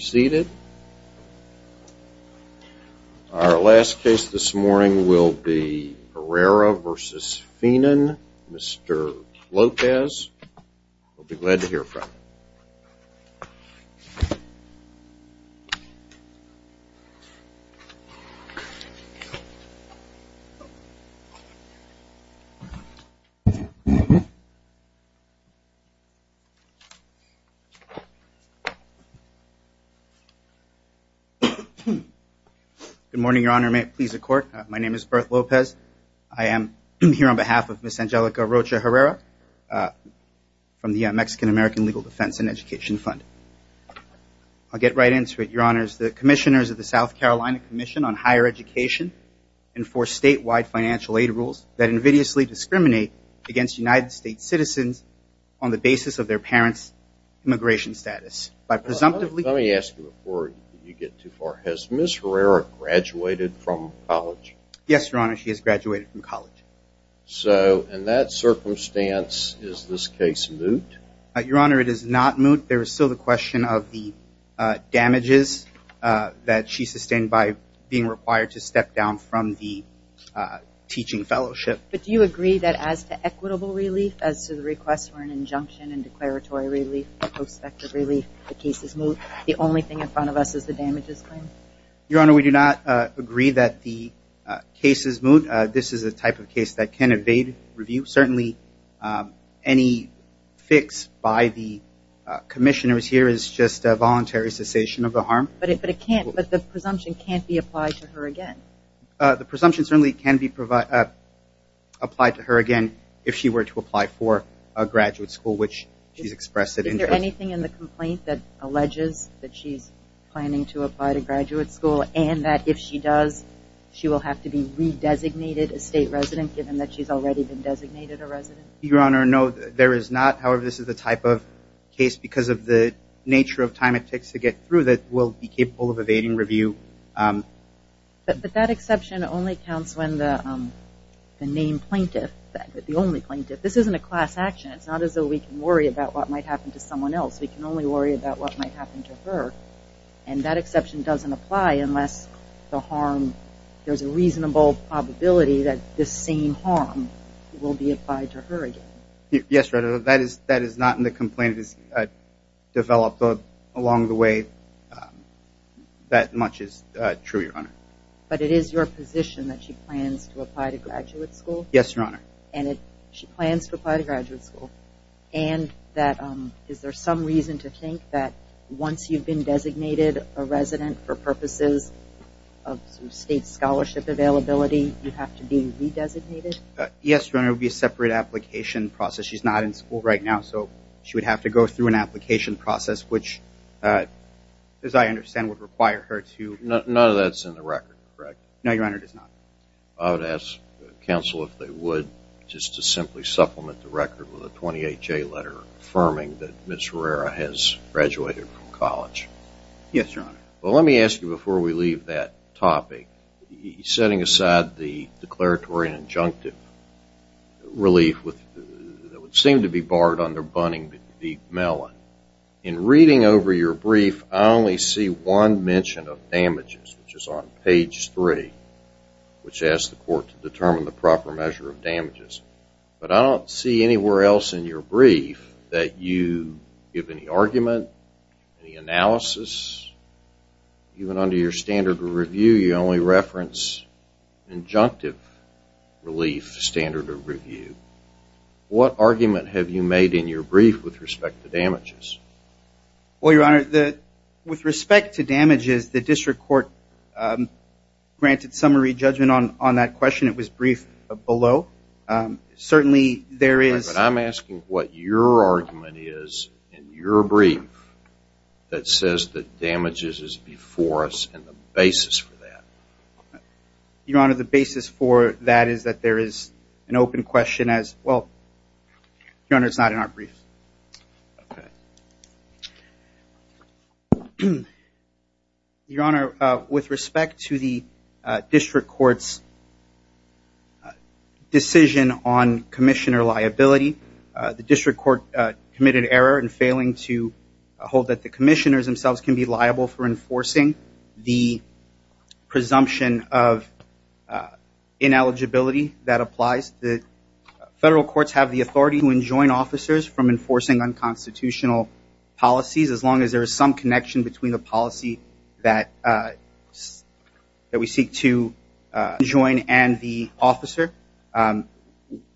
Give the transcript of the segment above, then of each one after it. seated. Our last case this morning will be Herrera v. Finan, Mr. Lopez. We'll be glad to hear from him. Good morning, Your Honor. My name is Berth Lopez. I am here on behalf of Ms. Angelica Rocha Herrera from the Mexican-American Legal Defense and Education Fund. I'll get right into it, Your Honors. The commissioners of the South Carolina Commission on Higher Education enforce statewide financial aid rules that invidiously discriminate against United States citizens on the basis of their parents' immigration status by presumptively – Let me ask you before you get too far. Has Ms. Herrera graduated from college? Yes, Your Honor. She has graduated from college. So in that circumstance, is this case moot? Your Honor, it is not moot. There is still the question of the damages that she sustained by being required to step down from the teaching fellowship. But do you agree that as to equitable relief, as to the request for an injunction and declaratory relief, prospective relief, the case is moot? The only thing in front of us is the damages claim? Your Honor, we do not agree that the case is moot. This is a type of case that can evade review. Certainly, any fix by the commissioners here is just a voluntary cessation of the harm. But it can't – the presumption can't be applied to her again? The presumption certainly can be applied to her again if she were to apply for a graduate school, which she's expressed that interest. Is there anything in the complaint that alleges that she's planning to apply to graduate school and that if she does, she will have to be re-designated a state resident given that she's already been designated a resident? Your Honor, no, there is not. However, this is the type of case, because of the nature of time it takes to get through, that will be capable of evading review. But that exception only counts when the name plaintiff – the only plaintiff – this isn't a class action. It's not as though we can worry about what might happen to someone else. We can only worry about what might happen to her. And that exception doesn't apply unless the harm – there's a reasonable probability that this same harm will be applied to her again. Yes, Your Honor. That is not in the complaint. It is developed along the way. That much is true, Your Honor. But it is your position that she plans to apply to graduate school? Yes, Your Honor. And she plans to apply to be re-designated a resident for purposes of state scholarship availability? You have to be re-designated? Yes, Your Honor. It would be a separate application process. She's not in school right now, so she would have to go through an application process, which as I understand, would require her to – None of that's in the record, correct? No, Your Honor, it is not. I would ask counsel if they would just to simply supplement the record with a 28-J letter affirming that Ms. Herrera has graduated from college. Yes, Your Honor. Well, let me ask you before we leave that topic, setting aside the declaratory and injunctive relief that would seem to be barred under Bunning v. Mellon, in reading over your brief, I only see one mention of damages, which is on page 3, which asks the court to determine the proper measure of damages. But I don't see anywhere else in your brief that you give any argument, any analysis. Even under your standard of review, you only reference injunctive relief standard of review. What argument have you made in your brief with respect to damages? Well, Your Honor, with respect to damages, the district court granted summary judgment on that question. It was briefed below. Certainly, there is – But I'm asking what your argument is in your brief that says that damages is before us and the basis for that. Your Honor, the basis for that is that there is an open question as – well, Your Honor, it's not in our brief. Okay. Your Honor, with respect to the district court's summary judgment on this decision on commissioner liability, the district court committed error in failing to hold that the commissioners themselves can be liable for enforcing the presumption of ineligibility that applies. The federal courts have the authority to enjoin officers from enforcing unconstitutional policies as long as there is some connection between the enjoin and the officer.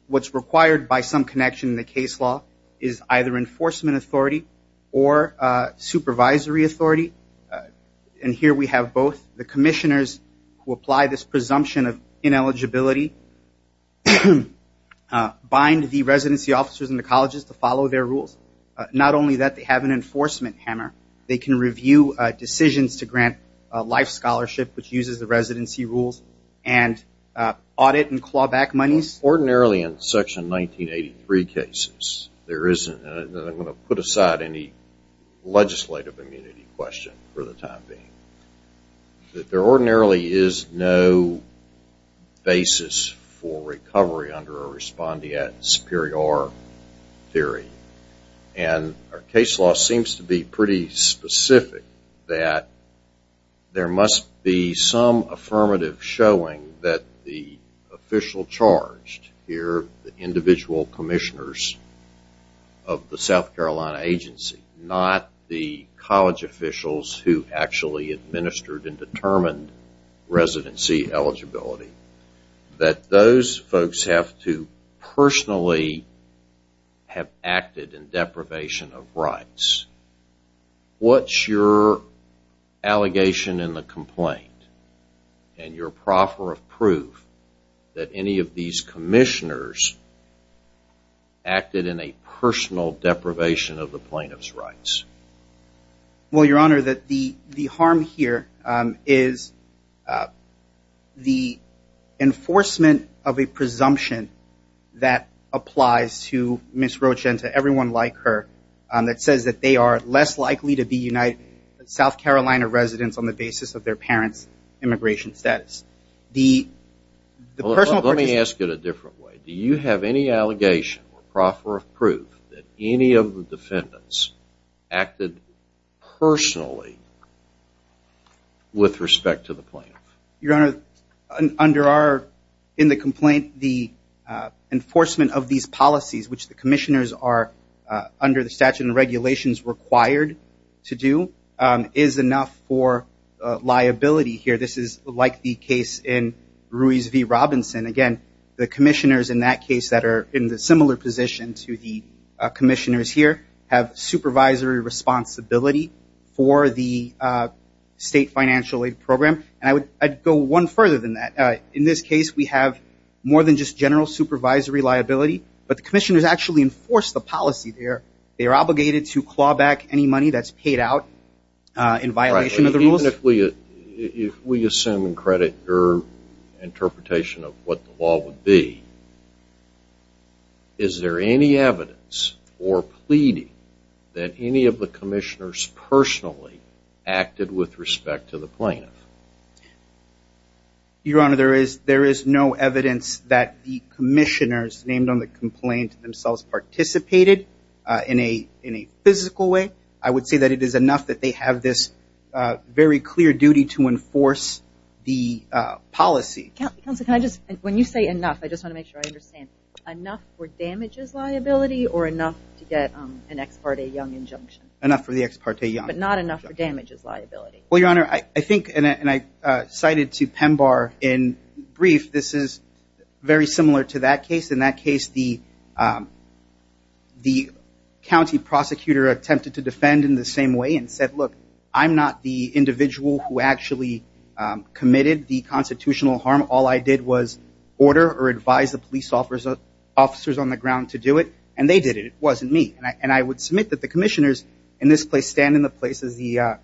What's required by some connection in the case law is either enforcement authority or supervisory authority. And here we have both the commissioners who apply this presumption of ineligibility bind the residency officers in the colleges to follow their rules. Not only that, they have an enforcement hammer. They can review decisions to grant a life scholarship which uses the residency rules and audit and claw back monies. Ordinarily in Section 1983 cases, there isn't – and I'm going to put aside any legislative immunity question for the time being. There ordinarily is no basis for recovery under a respondeat superior theory. And our case law seems to be pretty specific that there must be some affirmative showing that the official charged here, the individual commissioners of the South Carolina agency, not the college officials who actually administered and determined residency eligibility, that those folks have to personally have acted in deprivation of allegation in the complaint. And you're proper of proof that any of these commissioners acted in a personal deprivation of the plaintiff's rights. Well, your honor, the harm here is the enforcement of a presumption that applies to Ms. Roach and to everyone like her that says that they are less likely to be South Carolina residents on the basis of their parents' immigration status. Let me ask it a different way. Do you have any allegation or proper of proof that any of the defendants acted personally with respect to the plaintiff? Your honor, under our, in the complaint, the enforcement of these policies, which the commissioners are under the statute and regulations required to do, is enough for liability here. This is like the case in Ruiz v. Robinson. Again, the commissioners in that case that are in the similar position to the commissioners here have supervisory responsibility for the state financial aid program. And I would go one further than that. In this case, we have more than just general supervisory liability, but the commissioners actually enforce the policy there. They are obligated to claw back any money that's paid out in violation of the rules. Even if we assume and credit your interpretation of what the law would be, is there any evidence or pleading that any of the commissioners personally acted with respect to the plaintiff? Your honor, there is no evidence that the commissioners named on the complaint themselves participated in a physical way. I would say that it is enough that they have this very clear duty to enforce the policy. Counselor, can I just, when you say enough, I just want to make sure I understand. Enough for damages liability or enough to get an ex parte young injunction? Enough for the ex parte young. But not enough for damages liability? Well, your honor, I think, and I cited to Pembar in brief, this is very similar to that case. In that case, the county prosecutor attempted to defend in the same way and said, look, I'm not the individual who actually committed the constitutional harm. All I did was order or advise the police officers on the ground to do it, and they did it. It wasn't me. And I would submit that the commissioners in this place stand in the place of the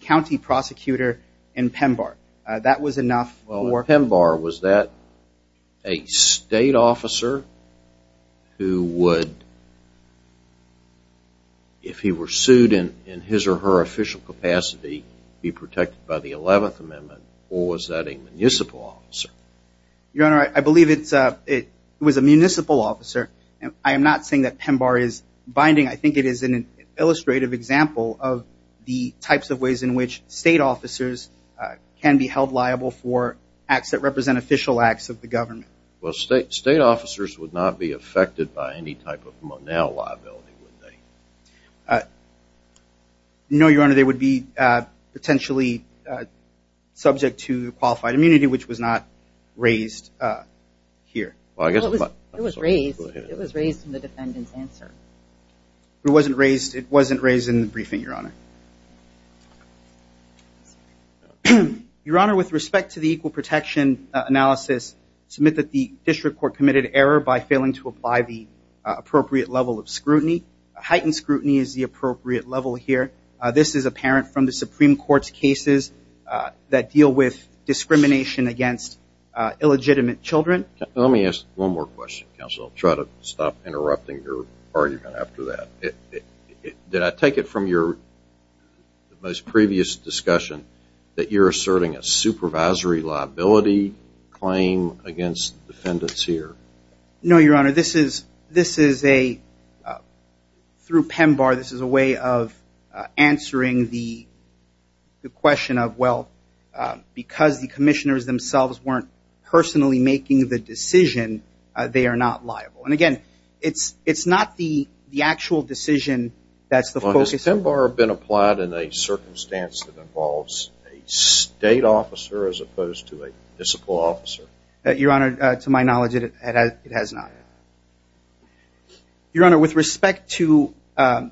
county prosecutor in Pembar. That was enough for... Well, in Pembar, was that a state officer who would, if he were sued in his or her official capacity, be protected by the 11th Amendment, or was that a municipal officer? Your honor, I believe it was a municipal officer. I am not saying that Pembar is binding. I think it is an illustrative example of the types of ways in which state officers can be held liable for acts that represent official acts of the government. Well, state officers would not be affected by any type of monel liability, would they? No, your honor. They would be potentially subject to qualified immunity, which was not raised here. Well, I guess... It was raised. It was raised in the defendant's answer. It wasn't raised. It wasn't raised in the briefing, your honor. Your honor, with respect to the equal protection analysis, I submit that the district court committed error by failing to apply the appropriate level of scrutiny. Heightened scrutiny is the appropriate level here. This is apparent from the Supreme Court's cases that deal with discrimination against illegitimate children. Let me ask one more question, counsel. I'll try to stop interrupting your argument after that. Did I take it from your most previous discussion that you're asserting a supervisory liability claim against defendants here? No, your honor. This is a... Through PEMBAR, this is a way of answering the question of, well, because the commissioners themselves weren't personally making the decision, they are not liable. And again, it's not the actual decision that's the focus... Not in a circumstance that involves a state officer as opposed to a municipal officer. Your honor, to my knowledge, it has not. Your honor, with respect to the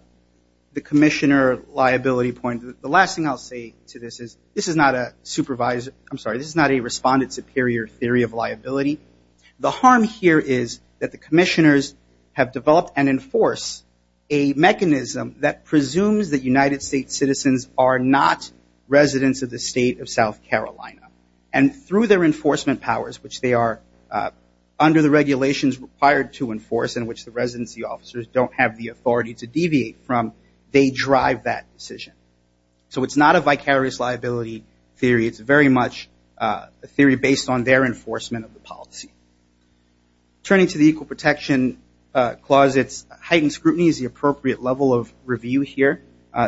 commissioner liability point, the last thing I'll say to this is, this is not a supervisor... I'm sorry, this is not a respondent superior theory of liability. The harm here is that the commissioners have developed and enforced a mechanism that citizens are not residents of the state of South Carolina. And through their enforcement powers, which they are under the regulations required to enforce and which the residency officers don't have the authority to deviate from, they drive that decision. So it's not a vicarious liability theory. It's very much a theory based on their enforcement of the policy. Turning to the Equal Protection Clause, it's heightened scrutiny is the appropriate level of review here.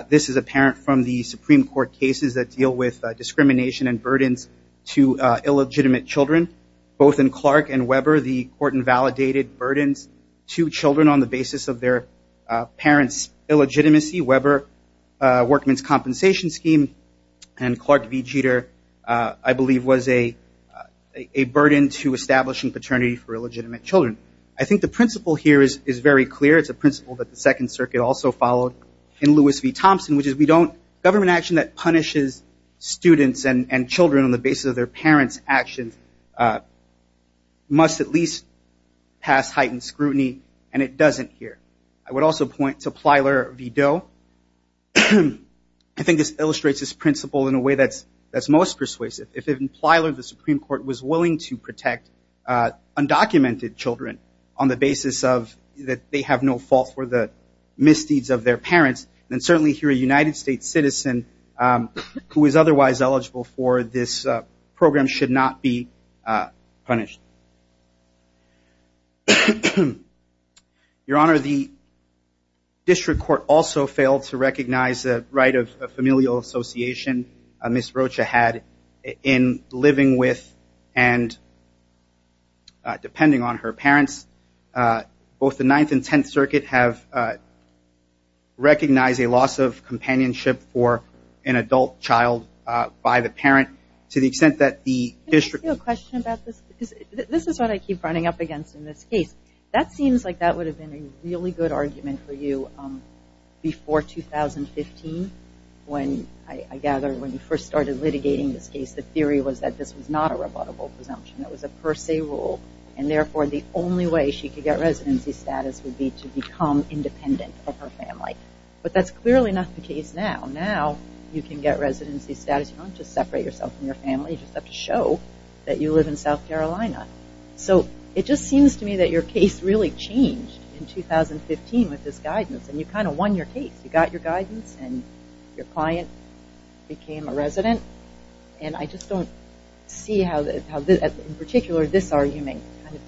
This is apparent from the Supreme Court cases that deal with discrimination and burdens to illegitimate children. Both in Clark and Weber, the court invalidated burdens to children on the basis of their parents' illegitimacy. Weber Workman's Compensation Scheme and Clark v. Jeter, I believe was a burden to establishing paternity for illegitimate children. I think the principle here is very clear. It's a principle that the Second Circuit also followed. In Lewis v. Thompson, which is we don't, government action that punishes students and children on the basis of their parents' actions must at least pass heightened scrutiny and it doesn't here. I would also point to Plyler v. Doe. I think this illustrates this principle in a way that's most persuasive. If even Plyler, the Supreme Court, was willing to protect undocumented children on the basis of that they have no fault for the misdeeds of their parents, then certainly here a United States citizen who is otherwise eligible for this program should not be punished. Your Honor, the district court also failed to recognize the right of familial association Ms. Rocha had in living with and depending on her parents. Both the Ninth and Tenth Circuit have recognized a loss of companionship for an adult child by the parent to the extent that the district court- Can I ask you a question about this? This is what I keep running up against in this case. That seems like that would have been a really good argument for you before 2015 when I gather when you first started litigating this case the theory was that this was not a rebuttable presumption. It was a per se rule and therefore the only way she could get residency status would be to become independent of her family. But that's clearly not the case now. Now you can get residency status. You don't just separate yourself from your family. You just have to show that you live in South Carolina. So it just seems to me that your case really changed in 2015 with this guidance and you kind of won your case. You got your guidance and your client became a resident. And I just don't see how in particular this argument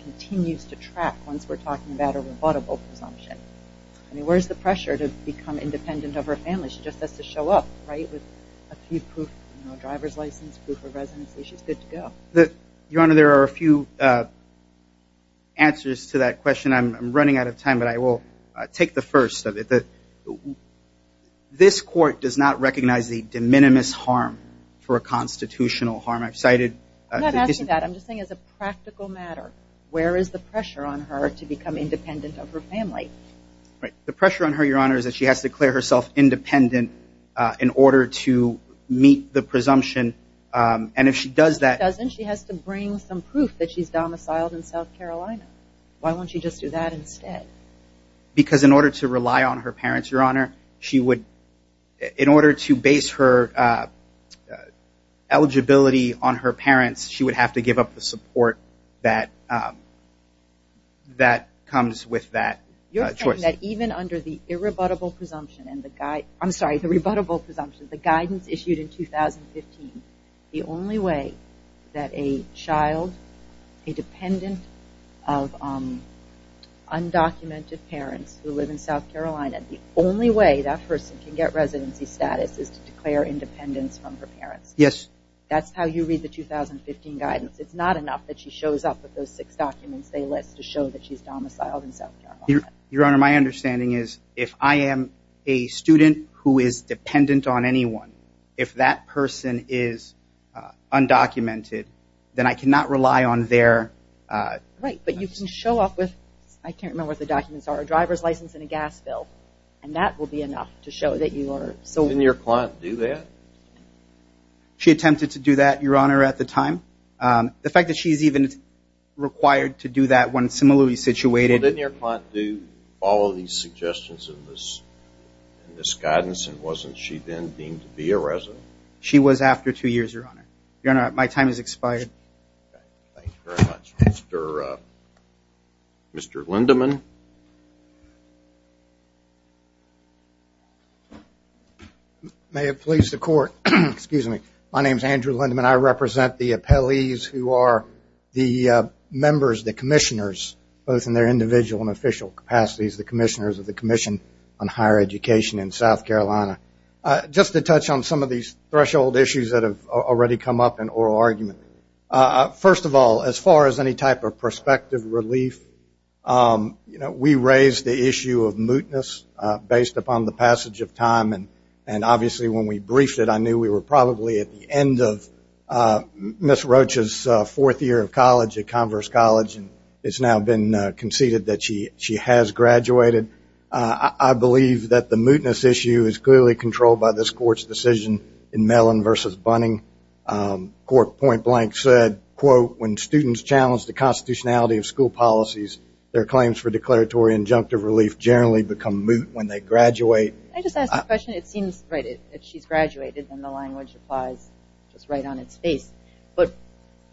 continues to track once we're talking about a rebuttable presumption. Where's the pressure to become independent of her family? She just has to show up with a few proof, a driver's license, proof of residency. She's good to go. Your Honor, there are a few answers to that question. I'm running out of time but I will take the first. This court does not recognize the de minimis harm for a constitutional harm. I'm not asking that. I'm just saying as a practical matter, where is the pressure on her to become independent of her family? The pressure on her, Your Honor, is that she has to declare herself independent in order to meet the presumption and if she does that She doesn't. She has to bring some proof that she's domiciled in South Carolina. Why won't she just do that instead? Because in order to rely on her parents, Your Honor, in order to base her eligibility on her parents, she would have to give up the support that comes with that choice. You're saying that even under the rebuttable presumption, the guidance issued in 2015, the only way that a child, a dependent of her family, should be able to have undocumented parents who live in South Carolina, the only way that person can get residency status is to declare independence from her parents. Yes. That's how you read the 2015 guidance. It's not enough that she shows up with those six documents they list to show that she's domiciled in South Carolina. Your Honor, my understanding is if I am a student who is dependent on anyone, if that person is undocumented, then I cannot rely on their... Right, but you can show up with, I can't remember what the documents are, a driver's license and a gas bill and that will be enough to show that you are... Didn't your client do that? She attempted to do that, Your Honor, at the time. The fact that she's even required to do that when similarly situated... Well, didn't your client do all of these suggestions in this guidance and wasn't she then deemed to be a resident? She was after two years, Your Honor. Your Honor, my time has expired. Thank you very much. Mr. Lindeman. May it please the Court. Excuse me. My name is Andrew Lindeman. I represent the appellees who are the members, the commissioners, both in their individual and official capacities, the commissioners of the Commission on Higher Education in South Carolina. Just to touch on some of these threshold issues that have already come up in oral argument. First of all, as far as any type of perspective relief, we raised the issue of mootness based upon the passage of time and obviously when we briefed it, I knew we were probably at the end of Ms. Roach's fourth year of college at Converse College and it's now been conceded that she has graduated. I believe that the Allen v. Bunning court point blank said, quote, when students challenge the constitutionality of school policies, their claims for declaratory injunctive relief generally become moot when they graduate. Can I just ask a question? It seems, right, that she's graduated and the language applies just right on its face, but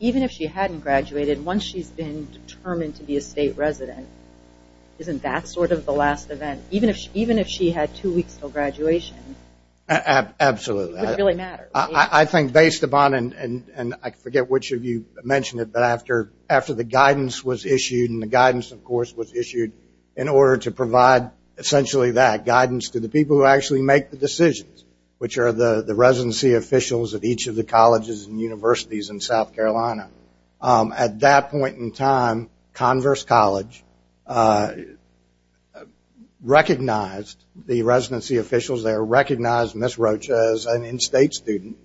even if she hadn't graduated, once she's been determined to be a state resident, isn't that sort of the last event? Even if she had two weeks until graduation? Absolutely. I think based upon, and I forget which of you mentioned it, but after the guidance was issued, and the guidance of course was issued in order to provide essentially that, guidance to the people who actually make the decisions, which are the residency officials at each of the colleges and universities in South Carolina. At that point in time, Converse College recognized the residency officials there, recognized Ms. Roach as an in-state student,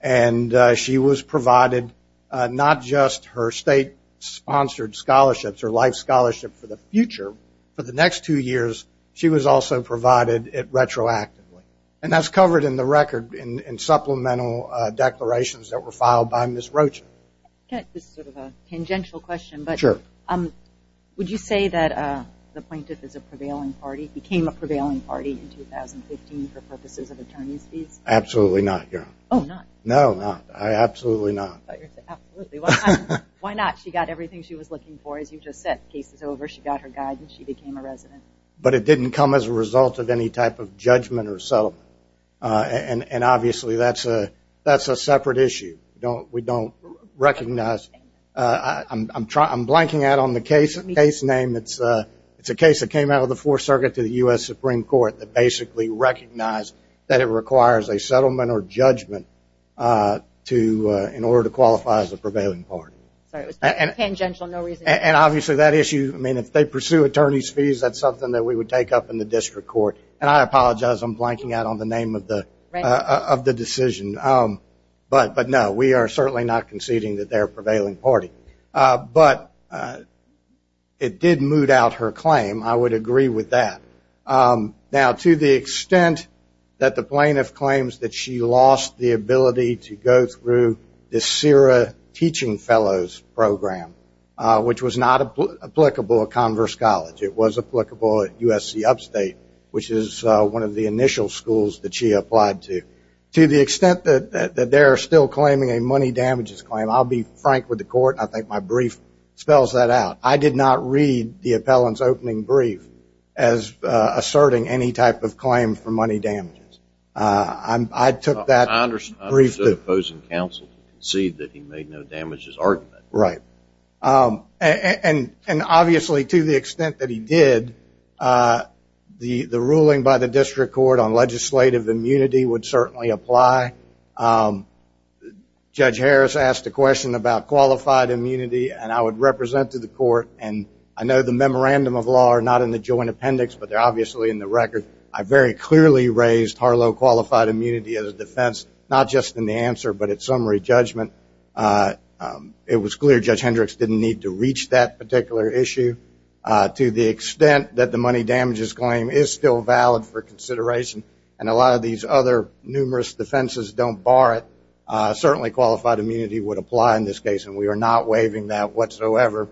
and she was provided not just her state-sponsored scholarships, her life scholarship for the future, for the next two years she was also provided it retroactively. And that's covered in the record in supplemental declarations that were filed by Ms. Roach. This is sort of a tangential question, but would you say that the plaintiff became a prevailing party in 2015 for purposes of attorney's fees? Absolutely not, Your Honor. Oh, not? No, not. Absolutely not. Why not? She got everything she was looking for, as you just said, cases over, she got her guidance, she became a resident. But it didn't come as a result of any type of judgment or settlement, and obviously that's a separate issue. We don't recognize, I'm blanking out on the case name, it's a case that came out of the Fourth Circuit to the U.S. Supreme Court that basically recognized that it requires a settlement or judgment in order to qualify as a prevailing party. And obviously that issue, I mean, if they pursue attorney's fees, that's something that we would take up in the district court. And I apologize, I'm blanking out on the name of the decision. But no, we are certainly not conceding that they're a prevailing party. But it did moot out her claim, I would agree with that. Now, to the extent that the plaintiff claims that she lost the ability to go through the CIRA teaching fellows program, which was not applicable at Converse College, it was applicable at USC Upstate, which is one of the initial schools that she applied to, to the extent that they're still claiming a money damages claim, I'll be frank with the court, and I think my brief spells that out. I did not read the appellant's opening brief as asserting any type of claim for money damages. I took that briefly. I understood the opposing counsel conceded that he made no damages argument. Right. And obviously, to the extent that he did, the ruling by the district court on legislative immunity would certainly apply. Judge Harris asked a question about qualified immunity and I would represent to the court, and I know the memorandum of law are not in the joint appendix, but they're obviously in the record. I very clearly raised Harlow qualified immunity as a defense, not just in the answer, but at summary judgment. It was clear Judge Hendricks didn't need to reach that particular issue. To the extent that the money damages claim is still valid for consideration, and a lot of these other numerous defenses don't bar it, certainly qualified immunity would apply in this case, and we are not waiving that whatsoever.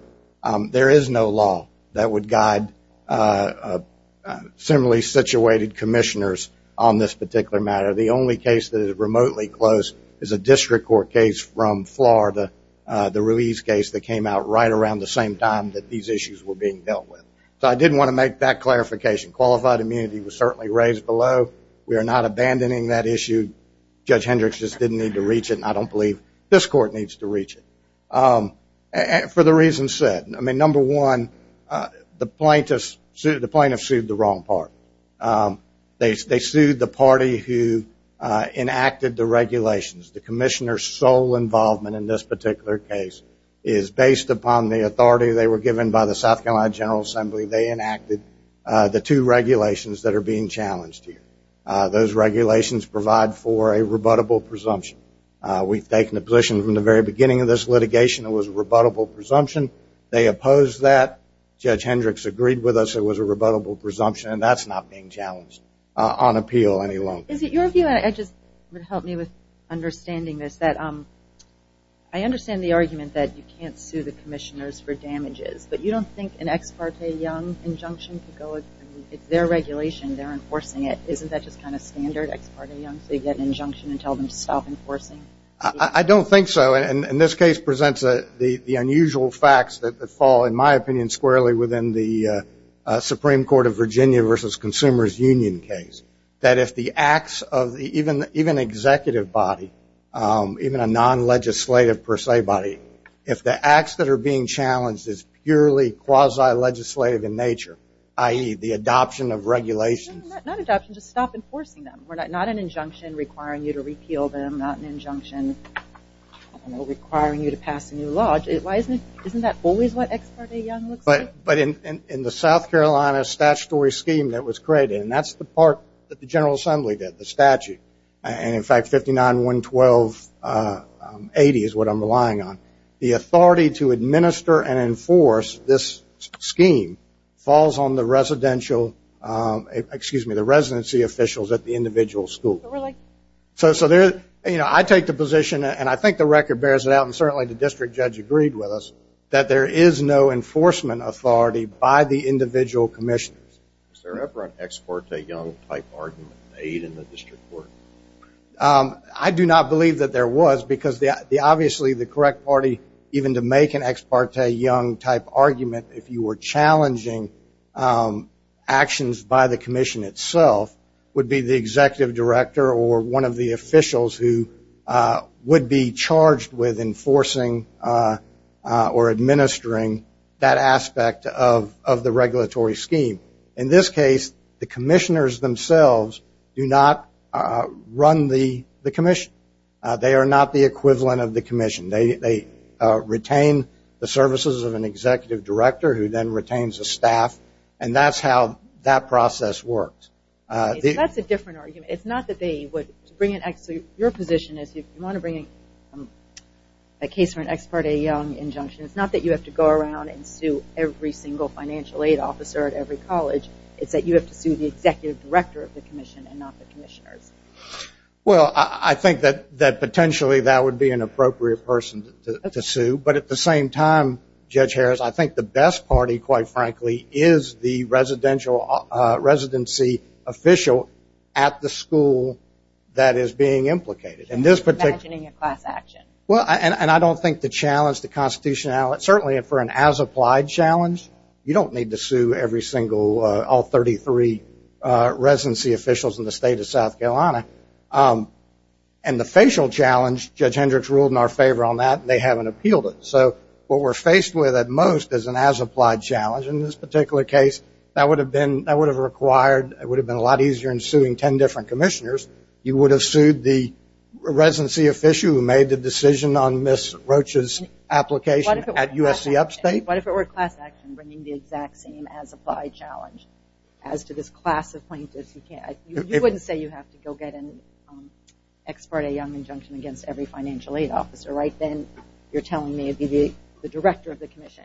There is no law that would guide similarly situated commissioners on this particular matter. The only case that is remotely close is a district court case from Florida, the Ruiz case that came out right around the same time that these issues were being dealt with. So I did want to make that clarification. Qualified immunity was certainly raised below. We are not abandoning that issue. Judge Hendricks just didn't need to reach it and I don't believe this court needs to reach it. For the reasons said, number one, the plaintiffs sued the wrong part. They sued the party who enacted the regulations. The commissioner's sole involvement in this particular case is based upon the authority they were given by the South Carolina General Assembly. They enacted the two regulations that are being challenged here. Those regulations provide for a rebuttable presumption. We've taken a position from the very beginning of this litigation that it was a rebuttable presumption. They opposed that. Judge Hendricks agreed with us it was a rebuttable presumption and that's not being challenged on appeal any longer. Is it your view, and it would help me with understanding this, that I understand the argument that you can't sue the commissioners for damages, but you don't think an ex parte young injunction could go, it's their regulation, they're enforcing it. Isn't that just kind of standard, ex parte young, so you get an injunction and tell them to stop enforcing? I don't think so. And this case presents the unusual facts that fall, in my opinion, squarely within the Supreme Court of Virginia versus Consumers Union case. That if the acts of the, even executive body, even a non-legislative per se body, if the acts that are being challenged is purely quasi-legislative in nature, i.e. the adoption of regulations. Not adoption, just stop enforcing them. We're not an injunction requiring you to repeal them, not an injunction requiring you to pass a new law. Isn't that always what ex parte young looks like? But in the South Carolina statutory scheme that was created, and that's the part that the General Assembly did, the statute, and in fact 59.112.80 is what I'm relying on. The authority to administer and enforce this scheme falls on the residential, excuse me, the residency officials at the individual school. But really? So I take the position, and I think the record bears it out, and certainly the district judge agreed with us, that there is no enforcement authority by the individual commissioners. Was there ever an ex parte young type argument made in the district court? I do not believe that there was, because obviously the correct party, even to make an ex parte young type argument, if you were challenging actions by the commission itself, would be the executive director or one of the officials who would be charged with enforcing or administering that aspect of the regulatory scheme. In this case, the commissioners themselves do not run the commission. They are not the services of an executive director who then retains the staff, and that's how that process works. So that's a different argument. It's not that they would bring an ex parte, your position is you want to bring a case for an ex parte young injunction. It's not that you have to go around and sue every single financial aid officer at every college. It's that you have to sue the executive director of the commission and not the commissioners. Well, I think that potentially that would be an appropriate person to sue, but at the same time, Judge Harris, I think the best party, quite frankly, is the residency official at the school that is being implicated. Imagining a class action. And I don't think the challenge, the constitutionality, certainly for an as applied challenge, you don't need to sue every single, all 33 residency officials in the state of South Carolina. And the facial challenge, Judge Hendricks ruled in our favor on that, and they haven't appealed it. So what we're faced with at most is an as applied challenge. In this particular case, that would have been, that would have required, it would have been a lot easier in suing ten different commissioners. You would have sued the residency official who made the decision on Ms. Roach's application at USC Upstate. What if it were class action bringing the exact same as applied challenge as to this class of plaintiffs? You can't, you wouldn't say you have to go get an ex parte young injunction against every financial aid officer. Right then, you're telling me it would be the director of the commission.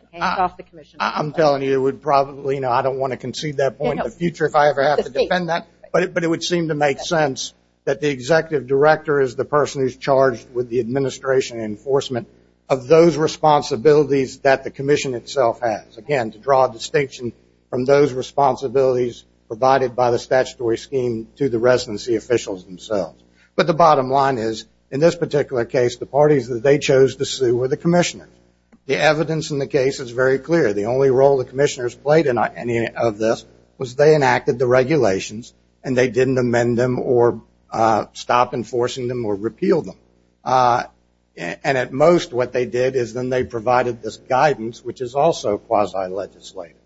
I'm telling you, it would probably, I don't want to concede that point in the future if I ever have to defend that. But it would seem to make sense that the executive director is the person who's charged with the administration and enforcement of those responsibilities that the commission itself has. Again, to draw a distinction from those responsibilities provided by the statutory scheme to the residency officials themselves. But the bottom line is, in this particular case, the parties that they chose to sue were the commissioners. The evidence in the case is very clear. The only role the commissioners played in any of this was they enacted the regulations and they didn't amend them or stop enforcing them or repeal them. And at most, what they did is then they provided this guidance, which is also quasi-legislative.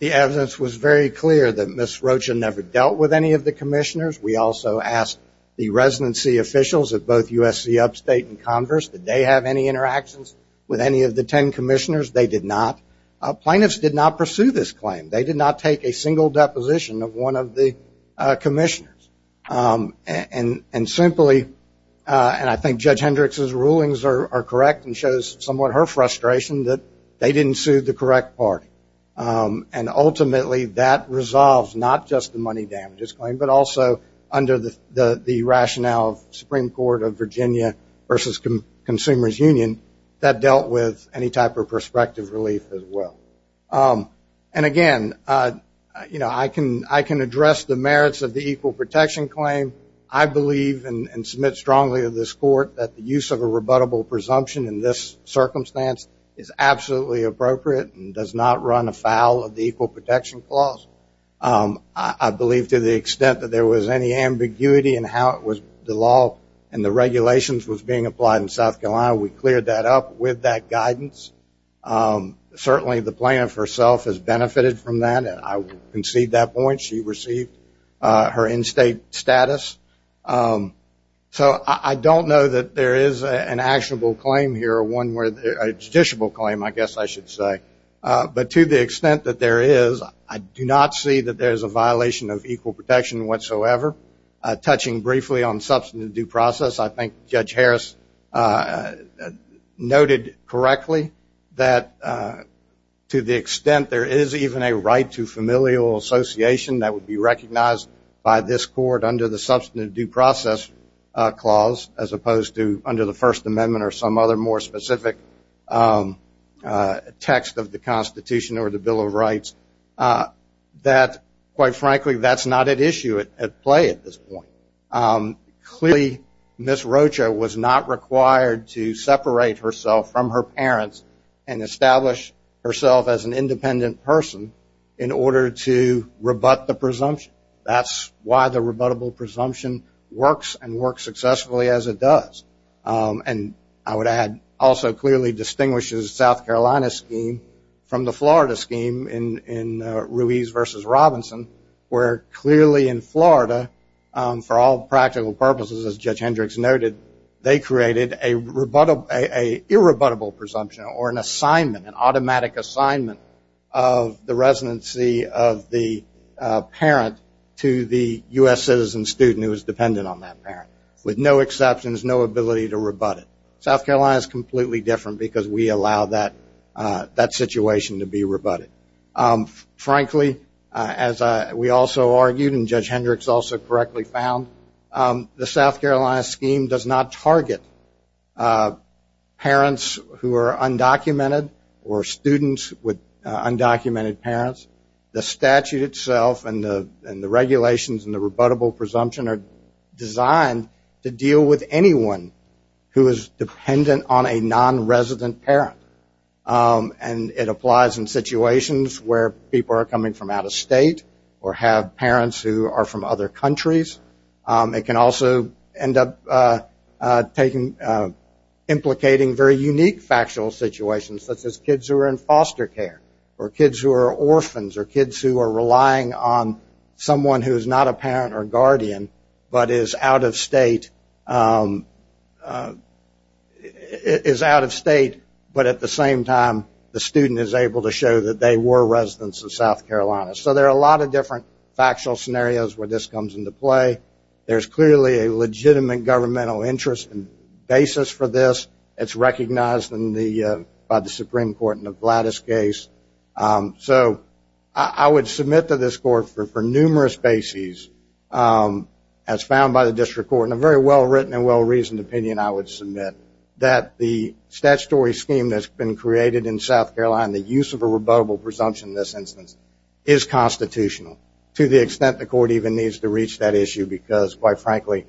The evidence was very clear that Ms. Roach had never dealt with any of the commissioners. We also asked the residency officials at both USC Upstate and Converse, did they have any interactions with any of the ten commissioners? They did not. Plaintiffs did not pursue this claim. They did not take a single deposition of one of the commissioners. And simply, and I think Judge Hendricks' rulings are correct and shows somewhat her frustration that they didn't sue the correct party. And ultimately, that resolves not just the money damages claim, but also under the rationale of Supreme Court of Virginia versus Consumers Union, that dealt with any type of prospective relief as well. And again, I can address the merits of the equal protection claim. I believe and submit strongly to this court that the use of a rebuttable presumption in this circumstance is absolutely appropriate and does not run afoul of the equal protection clause. I believe to the extent that there was any ambiguity in how it was the law and the regulations was being applied in South Carolina, we cleared that up with that guidance. Certainly, the plaintiff herself has benefited from that. I would concede that point. She received her in-state status. So I don't know that there is an actionable claim here or one where a judiciable claim, I guess I should say. But to the extent that there is, I do not see that there is a violation of equal protection whatsoever. Touching briefly on substantive due process, I think Judge Harris noted correctly that to the extent there is even a right to familial association that would be recognized by this court under the substantive due process clause as opposed to under the First Amendment or some other more specific text of the Constitution or the Bill of Rights, that quite frankly, that's not at issue at play at this point. Clearly, Ms. Rocha was not required to separate herself from her parents and establish herself as an independent person in order to rebut the presumption. That's why the rebuttable presumption works and works successfully as it does. And I would add, also clearly distinguishes the South Carolina scheme from the Florida scheme in Ruiz v. Robinson, where clearly in Florida, for all practical purposes, as Judge Hendricks noted, they created a irrebuttable presumption or an assignment, an automatic assignment of the residency of the parent to the U.S. citizen student who is dependent on that parent with no exceptions, no ability to rebut it. South Carolina is completely different because we allow that situation to be rebutted. Frankly, as we also argued and Judge Hendricks also correctly found, the South Carolina scheme does not target parents who are undocumented or students with undocumented parents. The statute itself and the regulations and the rebuttable presumption are designed to deal with anyone who is dependent on a nonresident parent. And it applies in situations where people are coming from out of state or have parents who are from other countries. It can also end up implicating very unique factual situations such as kids who are in foster care or kids who are orphans or kids who are relying on someone who is not a parent or guardian but is out of state, but at the same time the student is able to show that they were residents of South Carolina. So there are a lot of different factual scenarios where this comes into play. There is clearly a legitimate governmental interest and basis for this. It is recognized by the Supreme Court in the Gladys case. So I would submit to this Court for numerous bases as found by the District Court in a very well-written and well-reasoned opinion, I would submit that the statutory scheme that has been created in South Carolina, the use of a rebuttable presumption in this instance, is constitutional to the extent the Court even needs to reach that issue because quite frankly,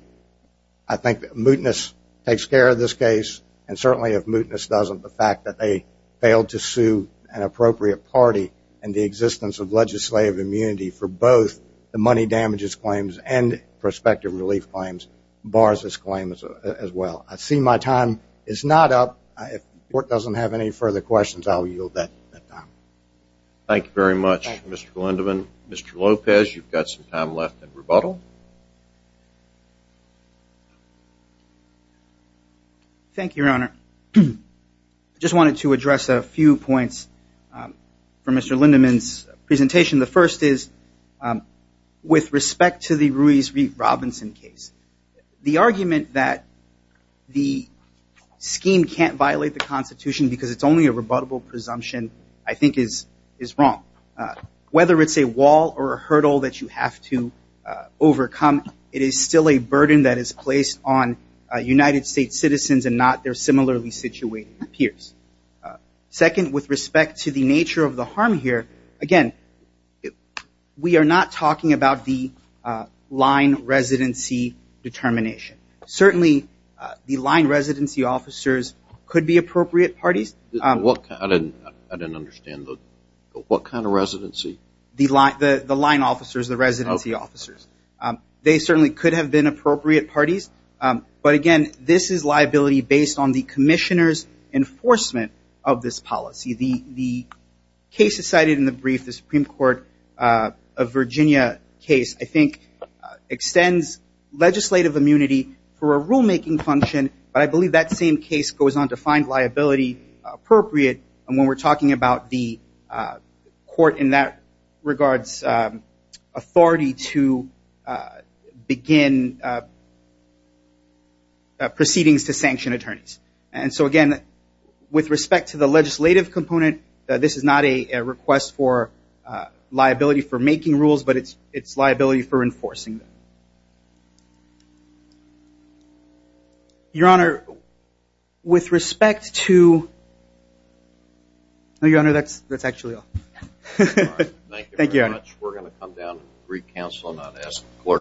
I think mootness takes care of this case and certainly if mootness doesn't, the fact that they failed to sue an appropriate party and the existence of legislative immunity for both the money damages claims and prospective relief claims bars this claim as well. I see my time is not up. If the Court doesn't have any further questions, I will yield that time. Thank you very much, Mr. Glenderman. Mr. Lopez, you've got some time left in rebuttal. Thank you, Your Honor. I just wanted to address a few points for Mr. Glenderman's presentation. The first is with respect to the Ruiz v. Robinson case, the argument that the scheme can't violate the Constitution because it's only a rebuttable presumption I think is wrong. Whether it's a wall or a hurdle that you have to overcome, it is still a burden that is placed on United States citizens and not their similarly situated peers. Second, with respect to the nature of the harm here, again, we are not talking about the line residency determination. Certainly the line residency officers could be appropriate parties. The line officers, the residency officers. They certainly could have been appropriate parties. But again, this is liability based on the Commissioner's enforcement of this policy. The case cited in the brief, the Supreme Court of Virginia case, I think extends legislative immunity for a rulemaking function. But I believe that same case goes on to find liability appropriate when we're talking about the court in that regards authority to begin proceedings to sanction attorneys. And so again, with respect to the legislative component, this is not a request for liability for making rules, but it's liability for enforcing them. Your Honor, with respect to... No, Your Honor, that's actually all. Thank you, Your Honor.